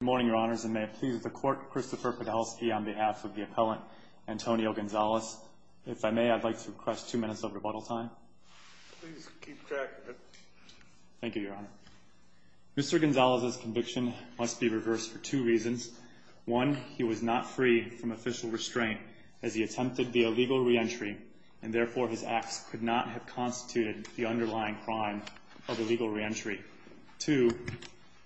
Good morning, your honors, and may it please the court, Christopher Podolsky on behalf of the appellant, Antonio Gonzalez. If I may, I'd like to request two minutes of rebuttal time. Please keep track of it. Thank you, your honor. Mr. Gonzalez's conviction must be reversed for two reasons. One, he was not free from official restraint as he attempted the illegal reentry, and therefore his acts could not have constituted the underlying crime of illegal reentry. Two,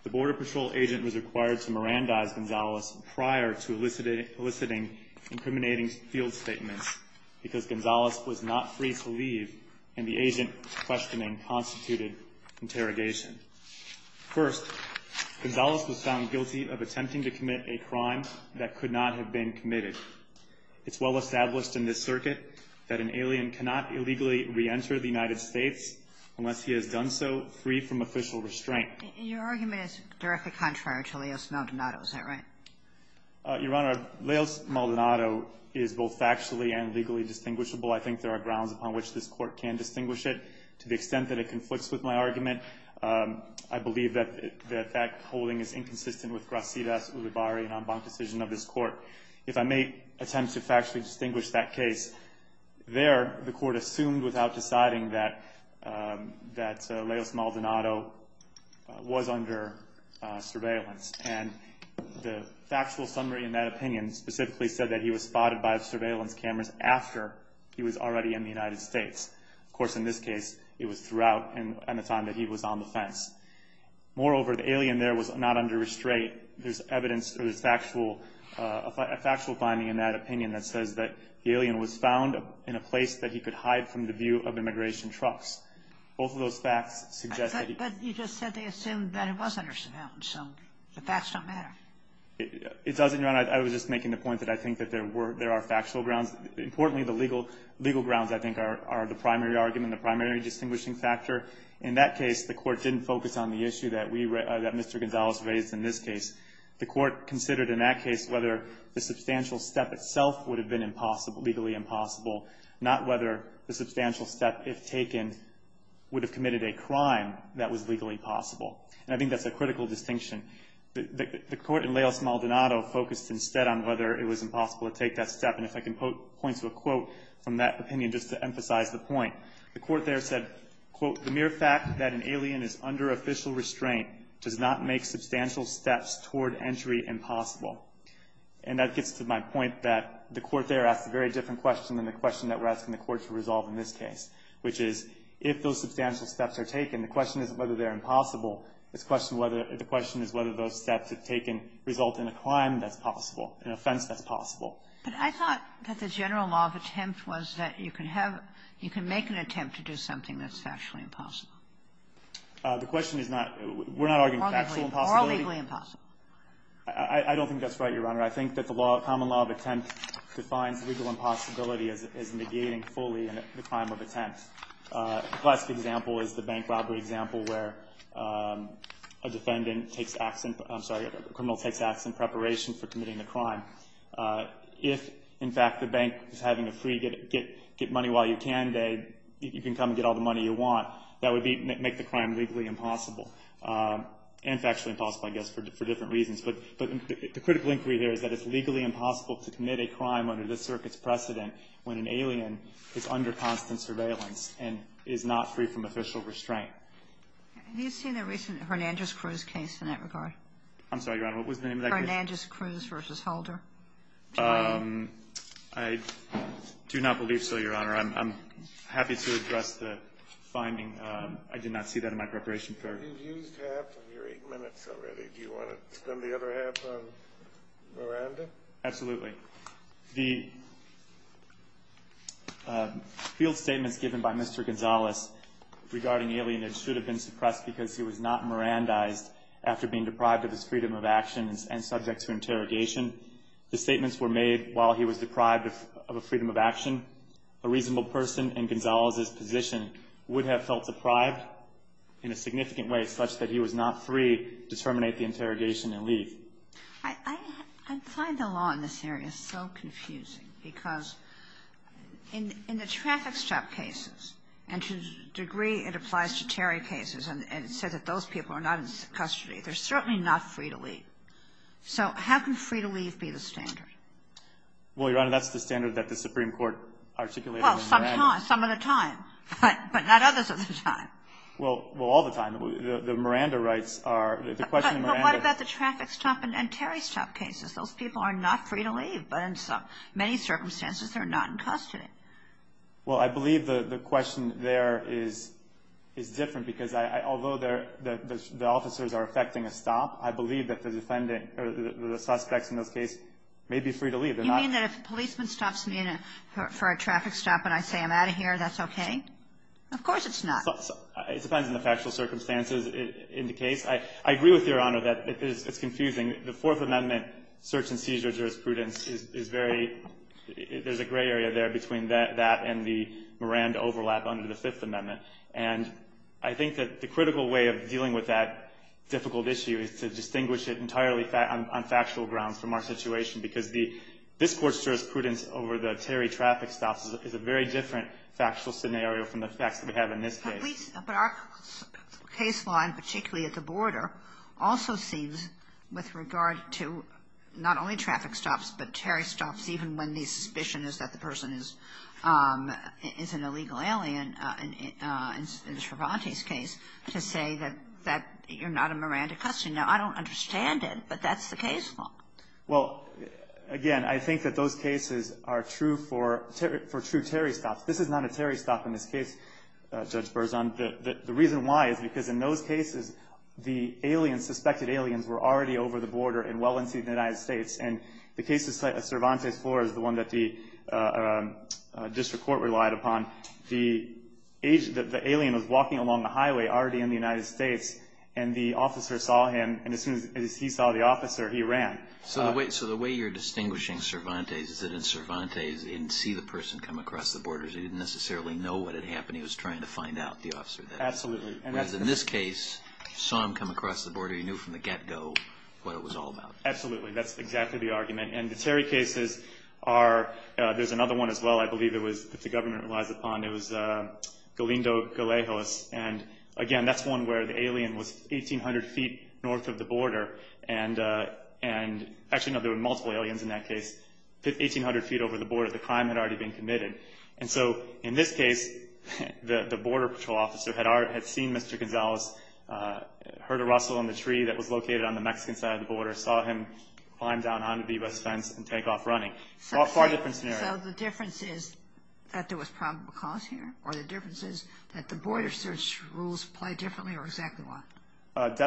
the Border Patrol agent was required to Mirandize Gonzalez prior to eliciting incriminating field statements because Gonzalez was not free to leave and the agent questioning constituted interrogation. First, Gonzalez was found guilty of attempting to commit a crime that could not have been committed. It's well established in this circuit that an alien cannot illegally reenter the United States unless he has done so free from official restraint. And your argument is directly contrary to Leos Maldonado. Is that right? Your honor, Leos Maldonado is both factually and legally distinguishable. I think there are grounds upon which this Court can distinguish it. To the extent that it conflicts with my argument, I believe that that holding is inconsistent with Gracias Ulibarri and Enbanque's decision of this Court. If I may attempt to factually distinguish that case, there the Court assumed without deciding that Leos Maldonado was under surveillance. And the factual summary in that opinion specifically said that he was spotted by surveillance cameras after he was already in the United States. Of course, in this case, it was throughout and at the time that he was on the fence. Moreover, the alien there was not under restraint. There's evidence, there's a factual finding in that opinion that says that the alien was found in a place that he could hide from the view of immigration trucks. Both of those facts suggest that he was under surveillance. But you just said they assumed that he was under surveillance. So the facts don't matter. It doesn't, Your Honor. I was just making the point that I think that there were – there are factual grounds. Importantly, the legal grounds, I think, are the primary argument, the primary distinguishing factor. In that case, the Court didn't focus on the issue that we – that Mr. Gonzales raised in this case. The Court considered in that case whether the substantial step itself would have been impossible – legally impossible, not whether the substantial step, if taken, would have committed a crime that was legally possible. And I think that's a critical distinction. The Court in Leos Maldonado focused instead on whether it was impossible to take that step. And if I can point to a quote from that opinion just to emphasize the point. The Court there said, quote, The mere fact that an alien is under official restraint does not make substantial steps toward entry impossible. And that gets to my point that the Court there asked a very different question than the question that we're asking the Court to resolve in this case, which is if those substantial steps are taken, the question isn't whether they're impossible. The question is whether those steps, if taken, result in a crime that's possible, an offense that's possible. But I thought that the general law of attempt was that you can have – you can make an attempt to do something that's factually impossible. The question is not – we're not arguing factual impossibility. Or legally impossible. I don't think that's right, Your Honor. I think that the common law of attempt defines legal impossibility as negating fully the crime of attempt. The last example is the bank robbery example where a defendant takes – I'm sorry, a criminal takes action in preparation for committing the crime. If, in fact, the bank is having a free get money while you can day, you can come and get all the money you want. That would make the crime legally impossible. And factually impossible, I guess, for different reasons. But the critical inquiry here is that it's legally impossible to commit a crime under this circuit's precedent when an alien is under constant surveillance and is not free from official restraint. Have you seen the recent Hernandez-Cruz case in that regard? I'm sorry, Your Honor. What was the name of that case? Hernandez-Cruz v. Holder. I do not believe so, Your Honor. I'm happy to address the finding. I did not see that in my preparation for it. You've used half of your eight minutes already. Do you want to spend the other half on Miranda? Absolutely. The field statements given by Mr. Gonzalez regarding alienage should have been suppressed because he was not Mirandized after being deprived of his freedom of action and subject to interrogation. The statements were made while he was deprived of a freedom of action. A reasonable person in Gonzalez's position would have felt deprived in a significant way such that he was not free to terminate the interrogation and leave. I find the law in this area so confusing because in the traffic stop cases, and to a degree it applies to Terry cases, and it says that those people are not in custody, they're certainly not free to leave. So how can free to leave be the standard? Well, Your Honor, that's the standard that the Supreme Court articulated. Well, sometimes, some of the time, but not others of the time. Well, all the time. The Miranda rights are, the question of Miranda. But what about the traffic stop and Terry stop cases? Those people are not free to leave, but in many circumstances they're not in custody. Well, I believe the question there is different because although the officers are effecting a stop, I believe that the defendant or the suspects in those cases may be free to leave. You mean that if a policeman stops me for a traffic stop and I say I'm out of here, that's okay? Of course it's not. It depends on the factual circumstances in the case. I agree with Your Honor that it's confusing. The Fourth Amendment search and seizure jurisprudence is very – there's a gray area there between that and the Miranda overlap under the Fifth Amendment. And I think that the critical way of dealing with that difficult issue is to distinguish it entirely on factual grounds from our situation because this Court's jurisprudence over the Terry traffic stops is a very different factual scenario from the facts that we have in this case. But our case law, and particularly at the border, also seems with regard to not only traffic stops but Terry stops, even when the suspicion is that the person is an illegal alien in Cervantes' case, to say that you're not a Miranda customer. Now, I don't understand it, but that's the case law. Well, again, I think that those cases are true for true Terry stops. This is not a Terry stop in this case, Judge Berzon. The reason why is because in those cases, the aliens, suspected aliens, were already over the border and well into the United States. And the case of Cervantes 4 is the one that the district court relied upon. The alien was walking along the highway already in the United States, and the officer saw him, and as soon as he saw the officer, he ran. So the way you're distinguishing Cervantes is that in Cervantes, you didn't see the person come across the border, so you didn't necessarily know what had happened. He was trying to find out, the officer. Absolutely. Whereas in this case, you saw him come across the border, you knew from the get-go what it was all about. Absolutely. That's exactly the argument. And the Terry cases are, there's another one as well, I believe, that the government relies upon. It was Galindo-Galejos. And, again, that's one where the alien was 1,800 feet north of the border. And actually, no, there were multiple aliens in that case, 1,800 feet over the border. The crime had already been committed. And so in this case, the border patrol officer had seen Mr. Gonzalez, or saw him climb down onto the U.S. fence and take off running. Far different scenario. So the difference is that there was probable cause here, or the difference is that the border search rules play differently, or exactly what?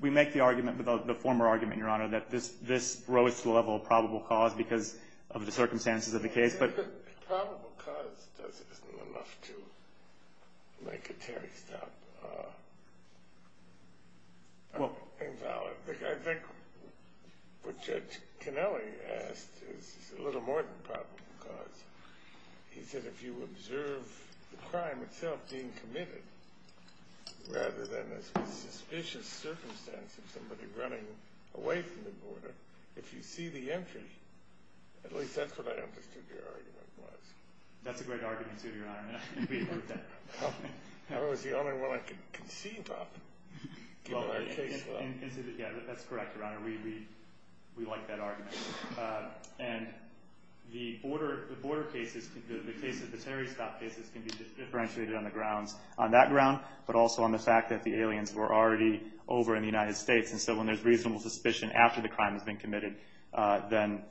We make the argument, the former argument, Your Honor, that this rose to the level of probable cause because of the circumstances of the case. Probable cause isn't enough to make a Terry stop invalid. I think what Judge Canelli asked is a little more than probable cause. He said if you observe the crime itself being committed, rather than a suspicious circumstance of somebody running away from the border, if you see the entry, at least that's what I understood your argument was. That's a great argument, too, Your Honor. That was the only one I could conceive of. Yeah, that's correct, Your Honor. We like that argument. And the border cases, the case of the Terry stop cases, can be differentiated on the grounds, on that ground, but also on the fact that the aliens were already over in the United States. And so when there's reasonable suspicion after the crime has been committed, then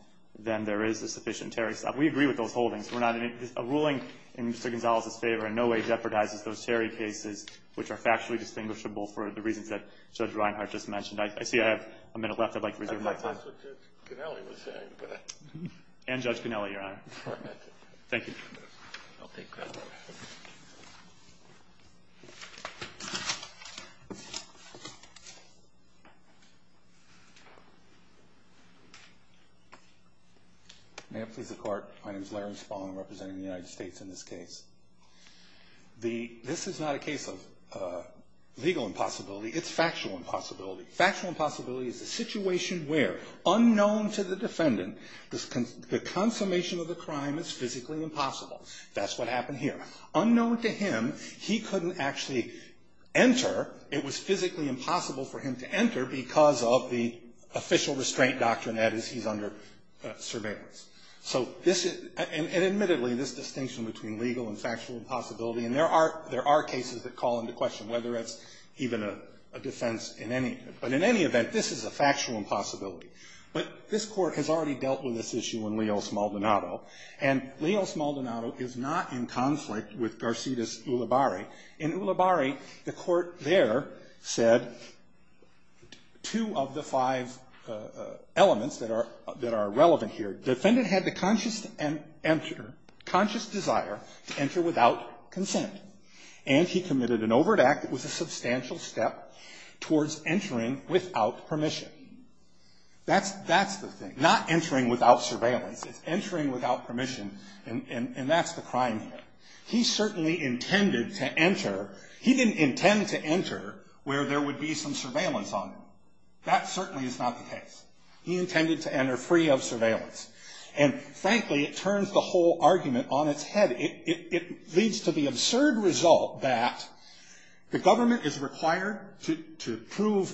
there is a sufficient Terry stop. We agree with those holdings. A ruling in Mr. Gonzalez's favor in no way jeopardizes those Terry cases, which are factually distinguishable for the reasons that Judge Reinhart just mentioned. I see I have a minute left. I'd like to reserve my time. That's what Judge Canelli was saying. And Judge Canelli, Your Honor. Thank you. I'll take that. May it please the Court. My name is Larry Spalding. I'm representing the United States in this case. This is not a case of legal impossibility. It's factual impossibility. Factual impossibility is a situation where, unknown to the defendant, the consummation of the crime is physically impossible. That's what happened here. Unknown to him, he couldn't actually enter. It was physically impossible for him to enter because of the official restraint doctrine, that is, he's under surveillance. So this is, and admittedly, this distinction between legal and factual impossibility, and there are cases that call into question whether it's even a defense in any, but in any event, this is a factual impossibility. But this Court has already dealt with this issue in Leo Smaldonado, and Leo Smaldonado is not in conflict with Garcetis Ulibarri. In Ulibarri, the Court there said two of the five elements that are, that are relevant here. Defendant had the conscious enter, conscious desire to enter without consent, and he committed an overt act that was a substantial step towards entering without permission. That's the thing. Not entering without surveillance. It's entering without permission, and that's the crime here. He certainly intended to enter. He didn't intend to enter where there would be some surveillance on him. That certainly is not the case. He intended to enter free of surveillance. And frankly, it turns the whole argument on its head. It leads to the absurd result that the government is required to prove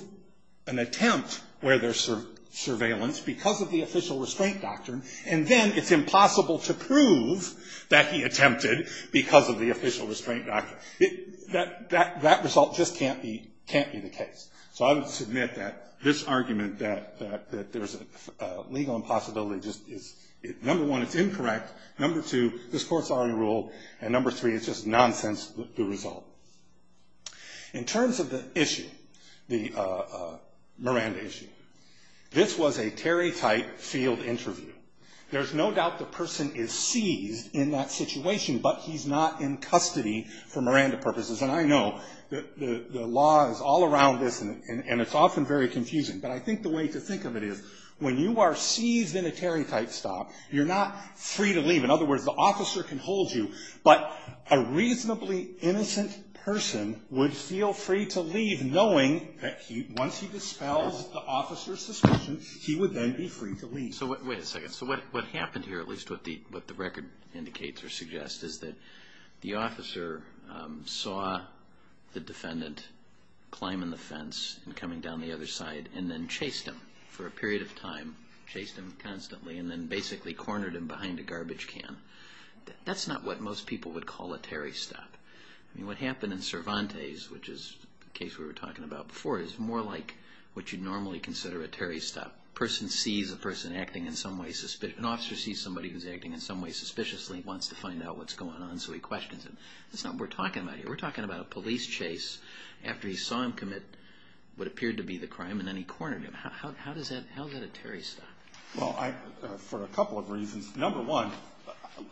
an attempt where there's surveillance because of the official restraint doctrine, and then it's impossible to prove that he attempted because of the official restraint doctrine. That result just can't be the case. So I would submit that this argument that there's a legal impossibility, number one, it's incorrect. Number two, this Court's already ruled. And number three, it's just nonsense, the result. In terms of the issue, the Miranda issue, this was a Terry type field interview. There's no doubt the person is seized in that situation, but he's not in custody for Miranda purposes. And I know the law is all around this, and it's often very confusing. But I think the way to think of it is when you are seized in a Terry type stop, you're not free to leave. In other words, the officer can hold you, but a reasonably innocent person would feel free to leave knowing that once he dispels the officer's suspicion, he would then be free to leave. Wait a second. So what happened here, at least what the record indicates or suggests, is that the officer saw the defendant climb in the fence and coming down the other side and then chased him for a period of time, chased him constantly, and then basically cornered him behind a garbage can. That's not what most people would call a Terry stop. I mean, what happened in Cervantes, which is a case we were talking about before, is more like what you'd normally consider a Terry stop. A person sees a person acting in some way, an officer sees somebody who's acting in some way suspiciously, wants to find out what's going on, so he questions him. That's not what we're talking about here. We're talking about a police chase. After he saw him commit what appeared to be the crime and then he cornered him. How is that a Terry stop? Well, for a couple of reasons. Number one,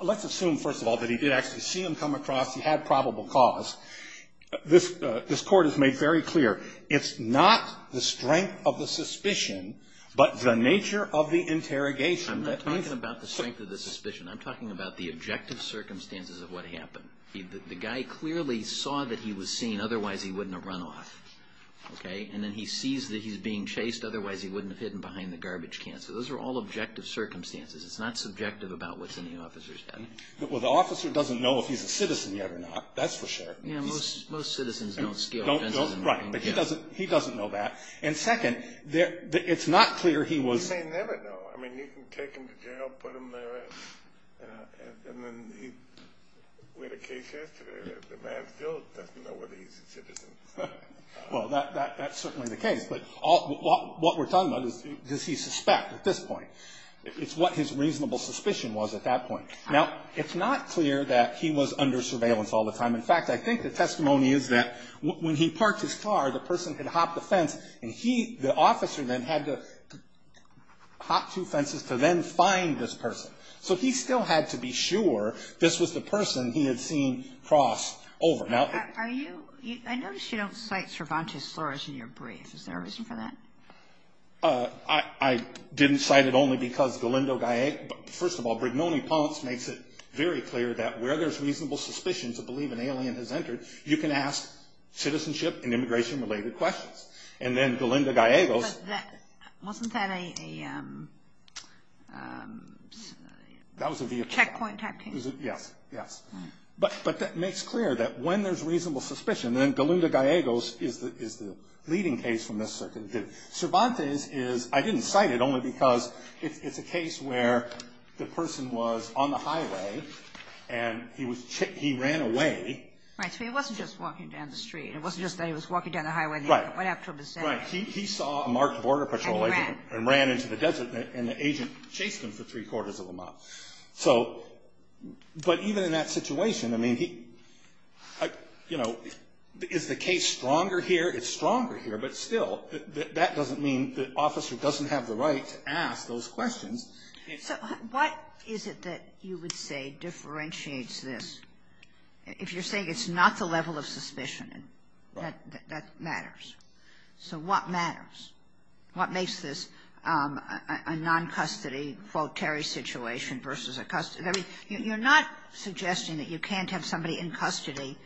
let's assume, first of all, that he did actually see him come across, he had probable cause. This court has made very clear, it's not the strength of the suspicion, but the nature of the interrogation. I'm not talking about the strength of the suspicion. I'm talking about the objective circumstances of what happened. The guy clearly saw that he was seen, otherwise he wouldn't have run off. Okay? And then he sees that he's being chased, otherwise he wouldn't have hidden behind the garbage can. So those are all objective circumstances. It's not subjective about what's in the officer's head. Well, the officer doesn't know if he's a citizen yet or not. That's for sure. Yeah, most citizens don't scale fences. Right, but he doesn't know that. And second, it's not clear he was. He may never know. I mean, you can take him to jail, put him there, and then he went to case yesterday. The man still doesn't know whether he's a citizen. Well, that's certainly the case. But what we're talking about is, does he suspect at this point? It's what his reasonable suspicion was at that point. Now, it's not clear that he was under surveillance all the time. In fact, I think the testimony is that when he parked his car, the person had hopped the fence, and he, the officer, then had to hop two fences to then find this person. So he still had to be sure this was the person he had seen cross over. I notice you don't cite Cervantes Torres in your brief. Is there a reason for that? I didn't cite it only because, first of all, Brignoni-Ponce makes it very clear that where there's reasonable suspicion to believe an alien has entered, you can ask citizenship and immigration-related questions. And then Galindo-Gallegos. Wasn't that a checkpoint type thing? Yes, yes. But that makes clear that when there's reasonable suspicion, then Galindo-Gallegos is the leading case from this circuit. Cervantes is, I didn't cite it only because it's a case where the person was on the highway, and he ran away. Right. So he wasn't just walking down the street. It wasn't just that he was walking down the highway. Right. Right. He saw a marked border patrol agent. And he ran. And ran into the desert, and the agent chased him for three-quarters of a mile. So, but even in that situation, I mean, he, you know, is the case stronger here? It's stronger here. But still, that doesn't mean the officer doesn't have the right to ask those questions. So what is it that you would say differentiates this? If you're saying it's not the level of suspicion, that matters. So what matters? What makes this a non-custody, quote, Terry situation versus a custody? I mean, you're not suggesting that you can't have somebody in custody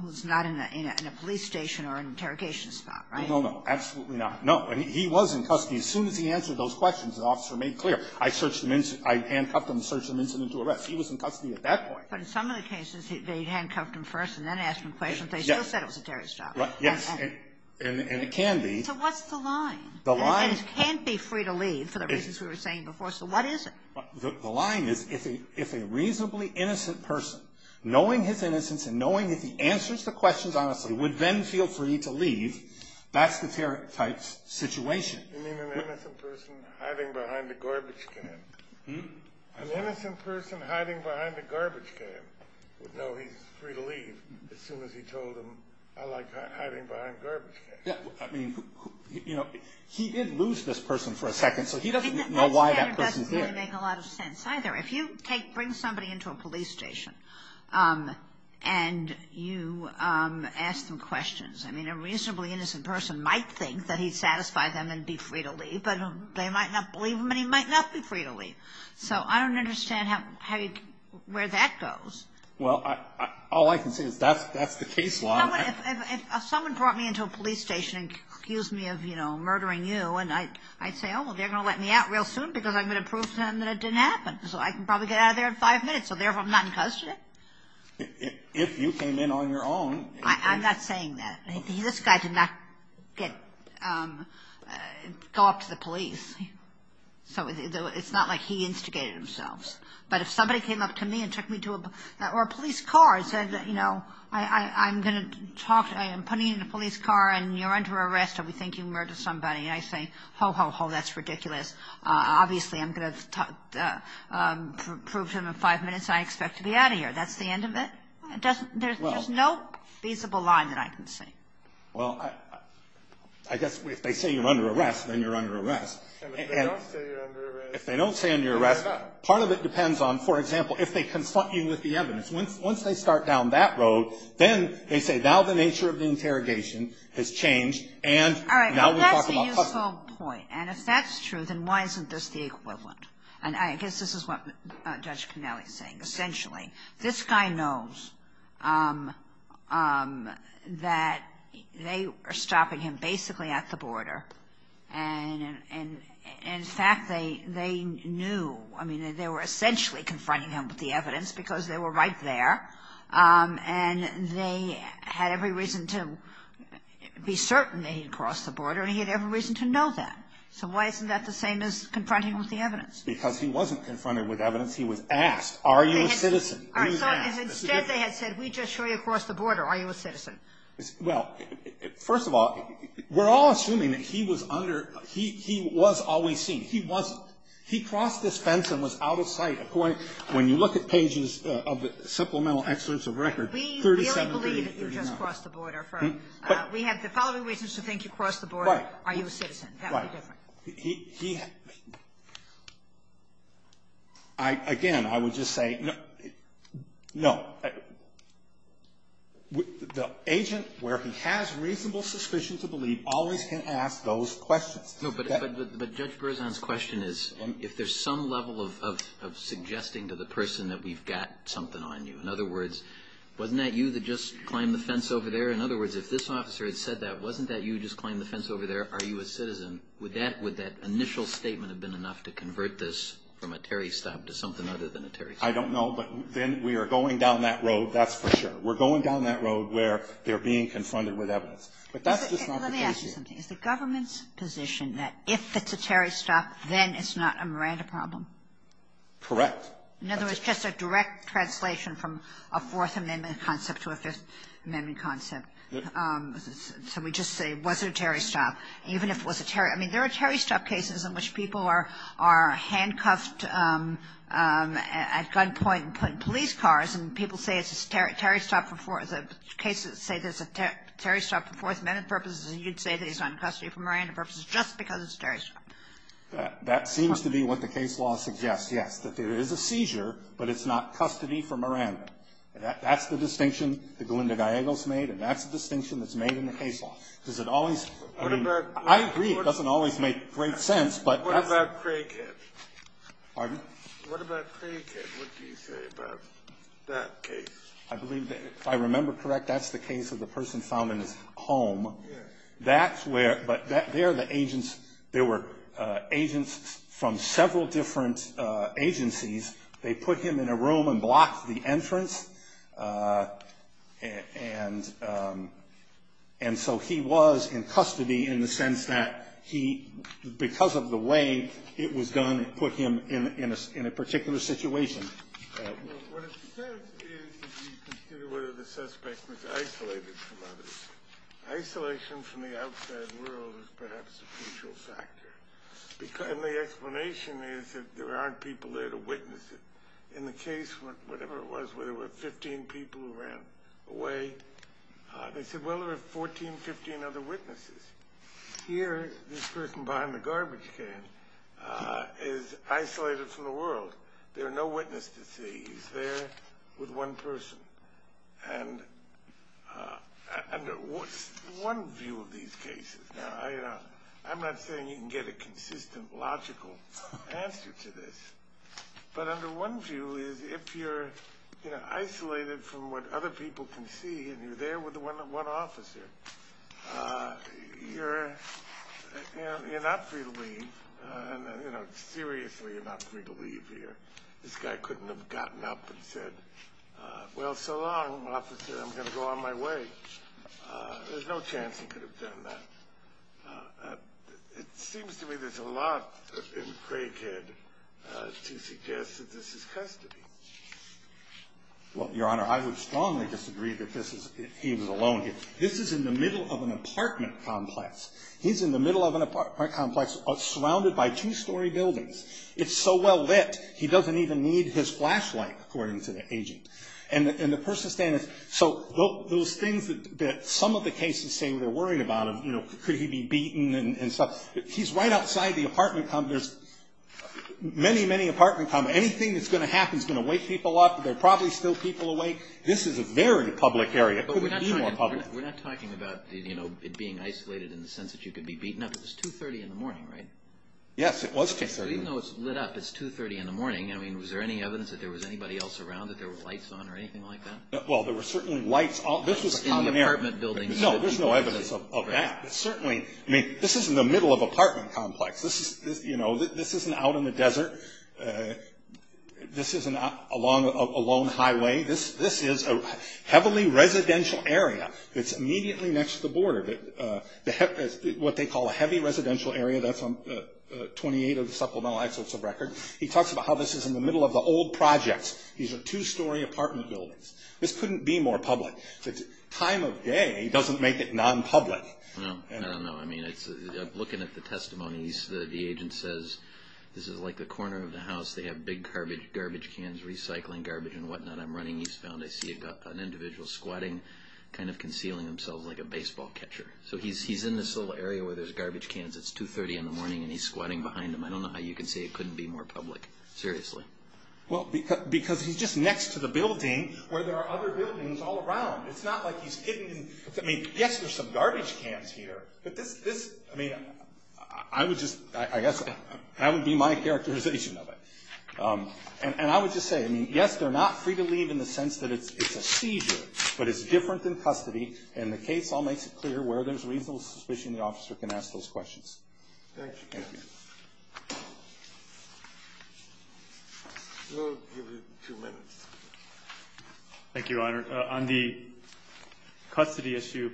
who's not in a police station or an interrogation spot, right? No, no, no. Absolutely not. No. He was in custody. As soon as he answered those questions, the officer made clear. I searched him in. I handcuffed him and searched him into arrest. He was in custody at that point. But in some of the cases, they handcuffed him first and then asked him questions. They still said it was a Terry stop. And it can be. So what's the line? The line. And it can't be free to leave for the reasons we were saying before. So what is it? The line is if a reasonably innocent person, knowing his innocence and knowing if he answers the questions honestly, would then feel free to leave, that's the Terry type situation. You mean an innocent person hiding behind a garbage can? An innocent person hiding behind a garbage can would know he's free to leave as soon as he told him, I like hiding behind garbage cans. I mean, you know, he did lose this person for a second, so he doesn't know why that person's there. That standard doesn't really make a lot of sense either. If you bring somebody into a police station and you ask them questions, I mean, a reasonably innocent person might think that he'd satisfy them and be free to leave, but they might not believe him and he might not be free to leave. So I don't understand where that goes. Well, all I can say is that's the case law. If someone brought me into a police station and accused me of, you know, murdering you, I'd say, oh, well, they're going to let me out real soon because I'm going to prove to them that it didn't happen, so I can probably get out of there in five minutes, so therefore I'm not in custody. If you came in on your own. I'm not saying that. This guy did not go up to the police. So it's not like he instigated himself. But if somebody came up to me and took me to a police car and said, you know, I'm going to talk to you, I'm putting you in a police car and you're under arrest and we think you murdered somebody, I say, ho, ho, ho, that's ridiculous. Obviously I'm going to prove to them in five minutes I expect to be out of here. That's the end of it. There's no feasible line that I can see. Well, I guess if they say you're under arrest, then you're under arrest. And if they don't say you're under arrest. Part of it depends on, for example, if they confront you with the evidence. Once they start down that road, then they say now the nature of the interrogation has changed and now we're talking about custody. All right. But that's a useful point. And if that's true, then why isn't this the equivalent? And I guess this is what Judge Connelly is saying, essentially. This guy knows that they are stopping him basically at the border. And, in fact, they knew. I mean, they were essentially confronting him with the evidence because they were right there. And they had every reason to be certain that he had crossed the border and he had every reason to know that. So why isn't that the same as confronting him with the evidence? Because he wasn't confronted with evidence. He was asked, are you a citizen? All right. So instead they had said, we just saw you cross the border. Are you a citizen? Well, first of all, we're all assuming that he was under he was always seen. He wasn't. He crossed this fence and was out of sight. When you look at pages of the supplemental excerpts of record, 37, 39. We don't believe that you just crossed the border. We have the following reasons to think you crossed the border. Right. Are you a citizen? That would be different. He again, I would just say no. The agent where he has reasonable suspicion to believe always can ask those questions. But Judge Berzon's question is if there's some level of suggesting to the person that we've got something on you. In other words, wasn't that you that just climbed the fence over there? In other words, if this officer had said that, wasn't that you just climbed the fence over there? Are you a citizen? Would that initial statement have been enough to convert this from a Terry stop to something other than a Terry stop? I don't know, but then we are going down that road. That's for sure. We're going down that road where they're being confronted with evidence. But that's just not the case here. Let me ask you something. Is the government's position that if it's a Terry stop, then it's not a Miranda problem? Correct. In other words, just a direct translation from a Fourth Amendment concept to a Fifth Amendment concept. So we just say was it a Terry stop? I mean, there are Terry stop cases in which people are handcuffed at gunpoint and put in police cars, and people say it's a Terry stop for Fourth Amendment purposes, and you'd say that it's on custody for Miranda purposes just because it's a Terry stop. That seems to be what the case law suggests, yes, that there is a seizure, but it's not custody for Miranda. That's the distinction that Glenda Gallegos made, and that's the distinction that's made in the case law. I agree it doesn't always make great sense. What about Craig Hitt? Pardon? What about Craig Hitt? What do you say about that case? If I remember correct, that's the case of the person found in his home. But there were agents from several different agencies. They put him in a room and blocked the entrance. And so he was in custody in the sense that he, because of the way it was done, put him in a particular situation. Well, what it says is you consider whether the suspect was isolated from others. Isolation from the outside world is perhaps a crucial factor. And the explanation is that there aren't people there to witness it. In the case, whatever it was, where there were 15 people who ran away, they said, well, there were 14, 15 other witnesses. Here, this person behind the garbage can is isolated from the world. There are no witnesses to see. He's there with one person. And under one view of these cases, now, I'm not saying you can get a consistent, logical answer to this. But under one view is if you're isolated from what other people can see and you're there with one officer, you're not free to leave. Seriously, you're not free to leave here. This guy couldn't have gotten up and said, well, so long, officer. I'm going to go on my way. There's no chance he could have done that. It seems to me there's a lot in Craikhead to suggest that this is custody. Well, Your Honor, I would strongly disagree that he was alone here. This is in the middle of an apartment complex. He's in the middle of an apartment complex surrounded by two-story buildings. It's so well lit, he doesn't even need his flashlight, according to the agent. So those things that some of the cases say they're worried about, could he be beaten and stuff, he's right outside the apartment complex. Many, many apartment complexes. Anything that's going to happen is going to wake people up. There are probably still people awake. This is a very public area. It couldn't be more public. But we're not talking about it being isolated in the sense that you could be beaten up. It was 2.30 in the morning, right? Yes, it was 2.30. So even though it's lit up, it's 2.30 in the morning. I mean, was there any evidence that there was anybody else around that there were lights on or anything like that? Well, there were certainly lights. This was a condo. In the apartment buildings. No, there's no evidence of that. Certainly, I mean, this is in the middle of an apartment complex. This isn't out in the desert. This isn't along a lone highway. This is a heavily residential area. It's immediately next to the border, what they call a heavy residential area. That's on 28 of the supplemental excerpts of record. He talks about how this is in the middle of the old projects. These are two-story apartment buildings. This couldn't be more public. The time of day doesn't make it non-public. No, I don't know. I mean, looking at the testimonies, the agent says this is like the corner of the house. They have big garbage cans, recycling garbage and whatnot. I'm running eastbound. I see an individual squatting, kind of concealing themselves like a baseball catcher. So he's in this little area where there's garbage cans. It's 2.30 in the morning, and he's squatting behind him. I don't know how you can say it couldn't be more public. Seriously. Well, because he's just next to the building where there are other buildings all around. It's not like he's hidden. I mean, yes, there's some garbage cans here. But this, I mean, I would just, I guess that would be my characterization of it. And I would just say, I mean, yes, they're not free to leave in the sense that it's a seizure, but it's different than custody. And the case all makes it clear where there's reasonable suspicion the officer can ask those questions. Thank you. We'll give you a few minutes. Thank you, Your Honor. On the custody issue,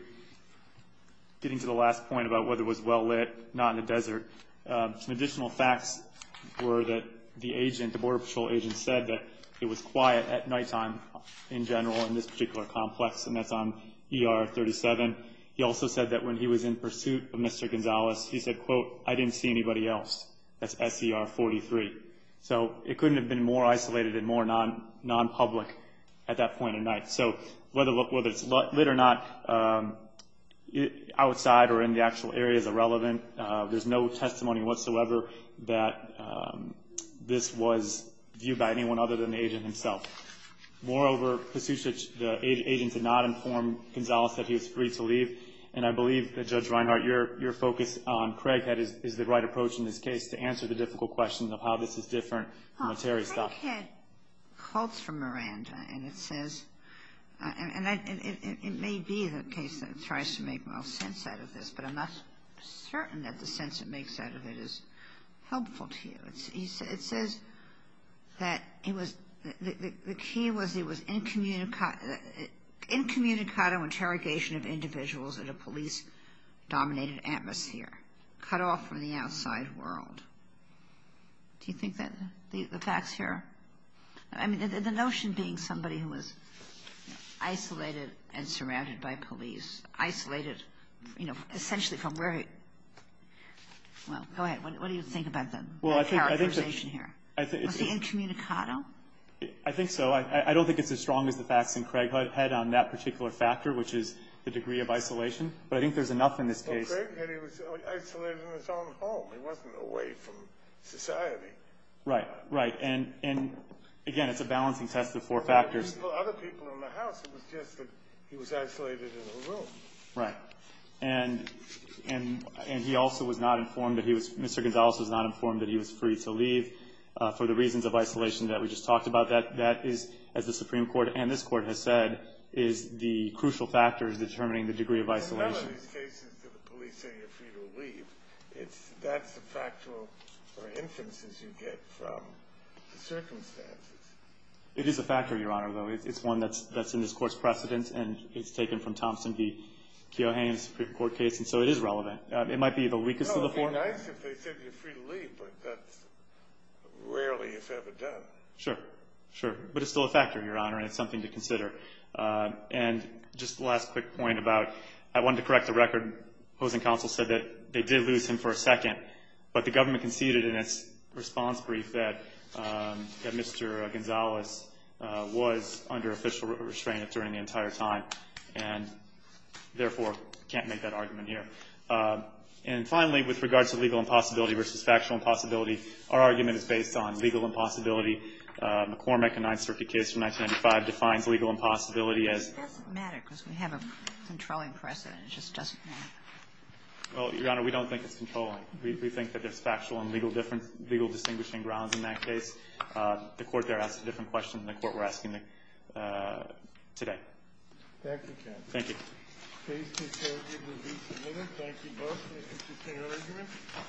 getting to the last point about whether it was well lit, not in the desert, some additional facts were that the agent, the Border Patrol agent, said that it was quiet at nighttime in general in this particular complex, and that's on ER 37. He also said that when he was in pursuit of Mr. Gonzalez, he said, quote, I didn't see anybody else. That's SCR 43. So it couldn't have been more isolated and more non-public at that point of night. So whether it's lit or not, outside or in the actual area is irrelevant. There's no testimony whatsoever that this was viewed by anyone other than the agent himself. Moreover, the agent did not inform Gonzalez that he was free to leave. And I believe that, Judge Reinhart, your focus on Craighead is the right approach in this case to answer the difficult question of how this is different from the Terry stuff. Craighead calls for Miranda, and it says – and it may be the case that it tries to make the most sense out of this, but I'm not certain that the sense it makes out of it is helpful to you. It says that it was – the key was it was incommunicado interrogation of individuals in a police-dominated atmosphere, cut off from the outside world. Do you think that the facts here – I mean, the notion being somebody who was isolated and surrounded by police, isolated, you know, essentially from where – well, go ahead. What do you think about the characterization here? Was he incommunicado? I think so. I don't think it's as strong as the facts in Craighead on that particular factor, which is the degree of isolation. But I think there's enough in this case. Well, Craighead, he was isolated in his own home. He wasn't away from society. Right. Right. And, again, it's a balancing test of four factors. Well, other people in the house, it was just that he was isolated in a room. Right. And he also was not informed that he was – Mr. Gonzales was not informed that he was free to leave for the reasons of isolation that we just talked about. That is, as the Supreme Court and this Court has said, is the crucial factor in determining the degree of isolation. In none of these cases did the police say you're free to leave. That's a factor for instances you get from the circumstances. It is a factor, Your Honor, though. It's one that's in this Court's precedent, and it's taken from Thompson v. Keoughhane's Supreme Court case, and so it is relevant. It might be the weakest of the four. It would be nice if they said you're free to leave, but that's rarely, if ever, done. Sure. Sure. But it's still a factor, Your Honor, and it's something to consider. And just the last quick point about I wanted to correct the record. Opposing counsel said that they did lose him for a second, but the government conceded in its response brief that Mr. Gonzales was under official restraint during the entire time and, therefore, can't make that argument here. And finally, with regard to legal impossibility versus factual impossibility, our argument is based on legal impossibility. McCormack, a Ninth Circuit case from 1995, defines legal impossibility as It doesn't matter because we have a controlling precedent. It just doesn't matter. Well, Your Honor, we don't think it's controlling. We think that there's factual and legal distinguishing grounds in that case. The court there asked a different question than the court we're asking today. Thank you, counsel. Thank you. Please take care of your release of witness. Thank you both. It was an interesting argument.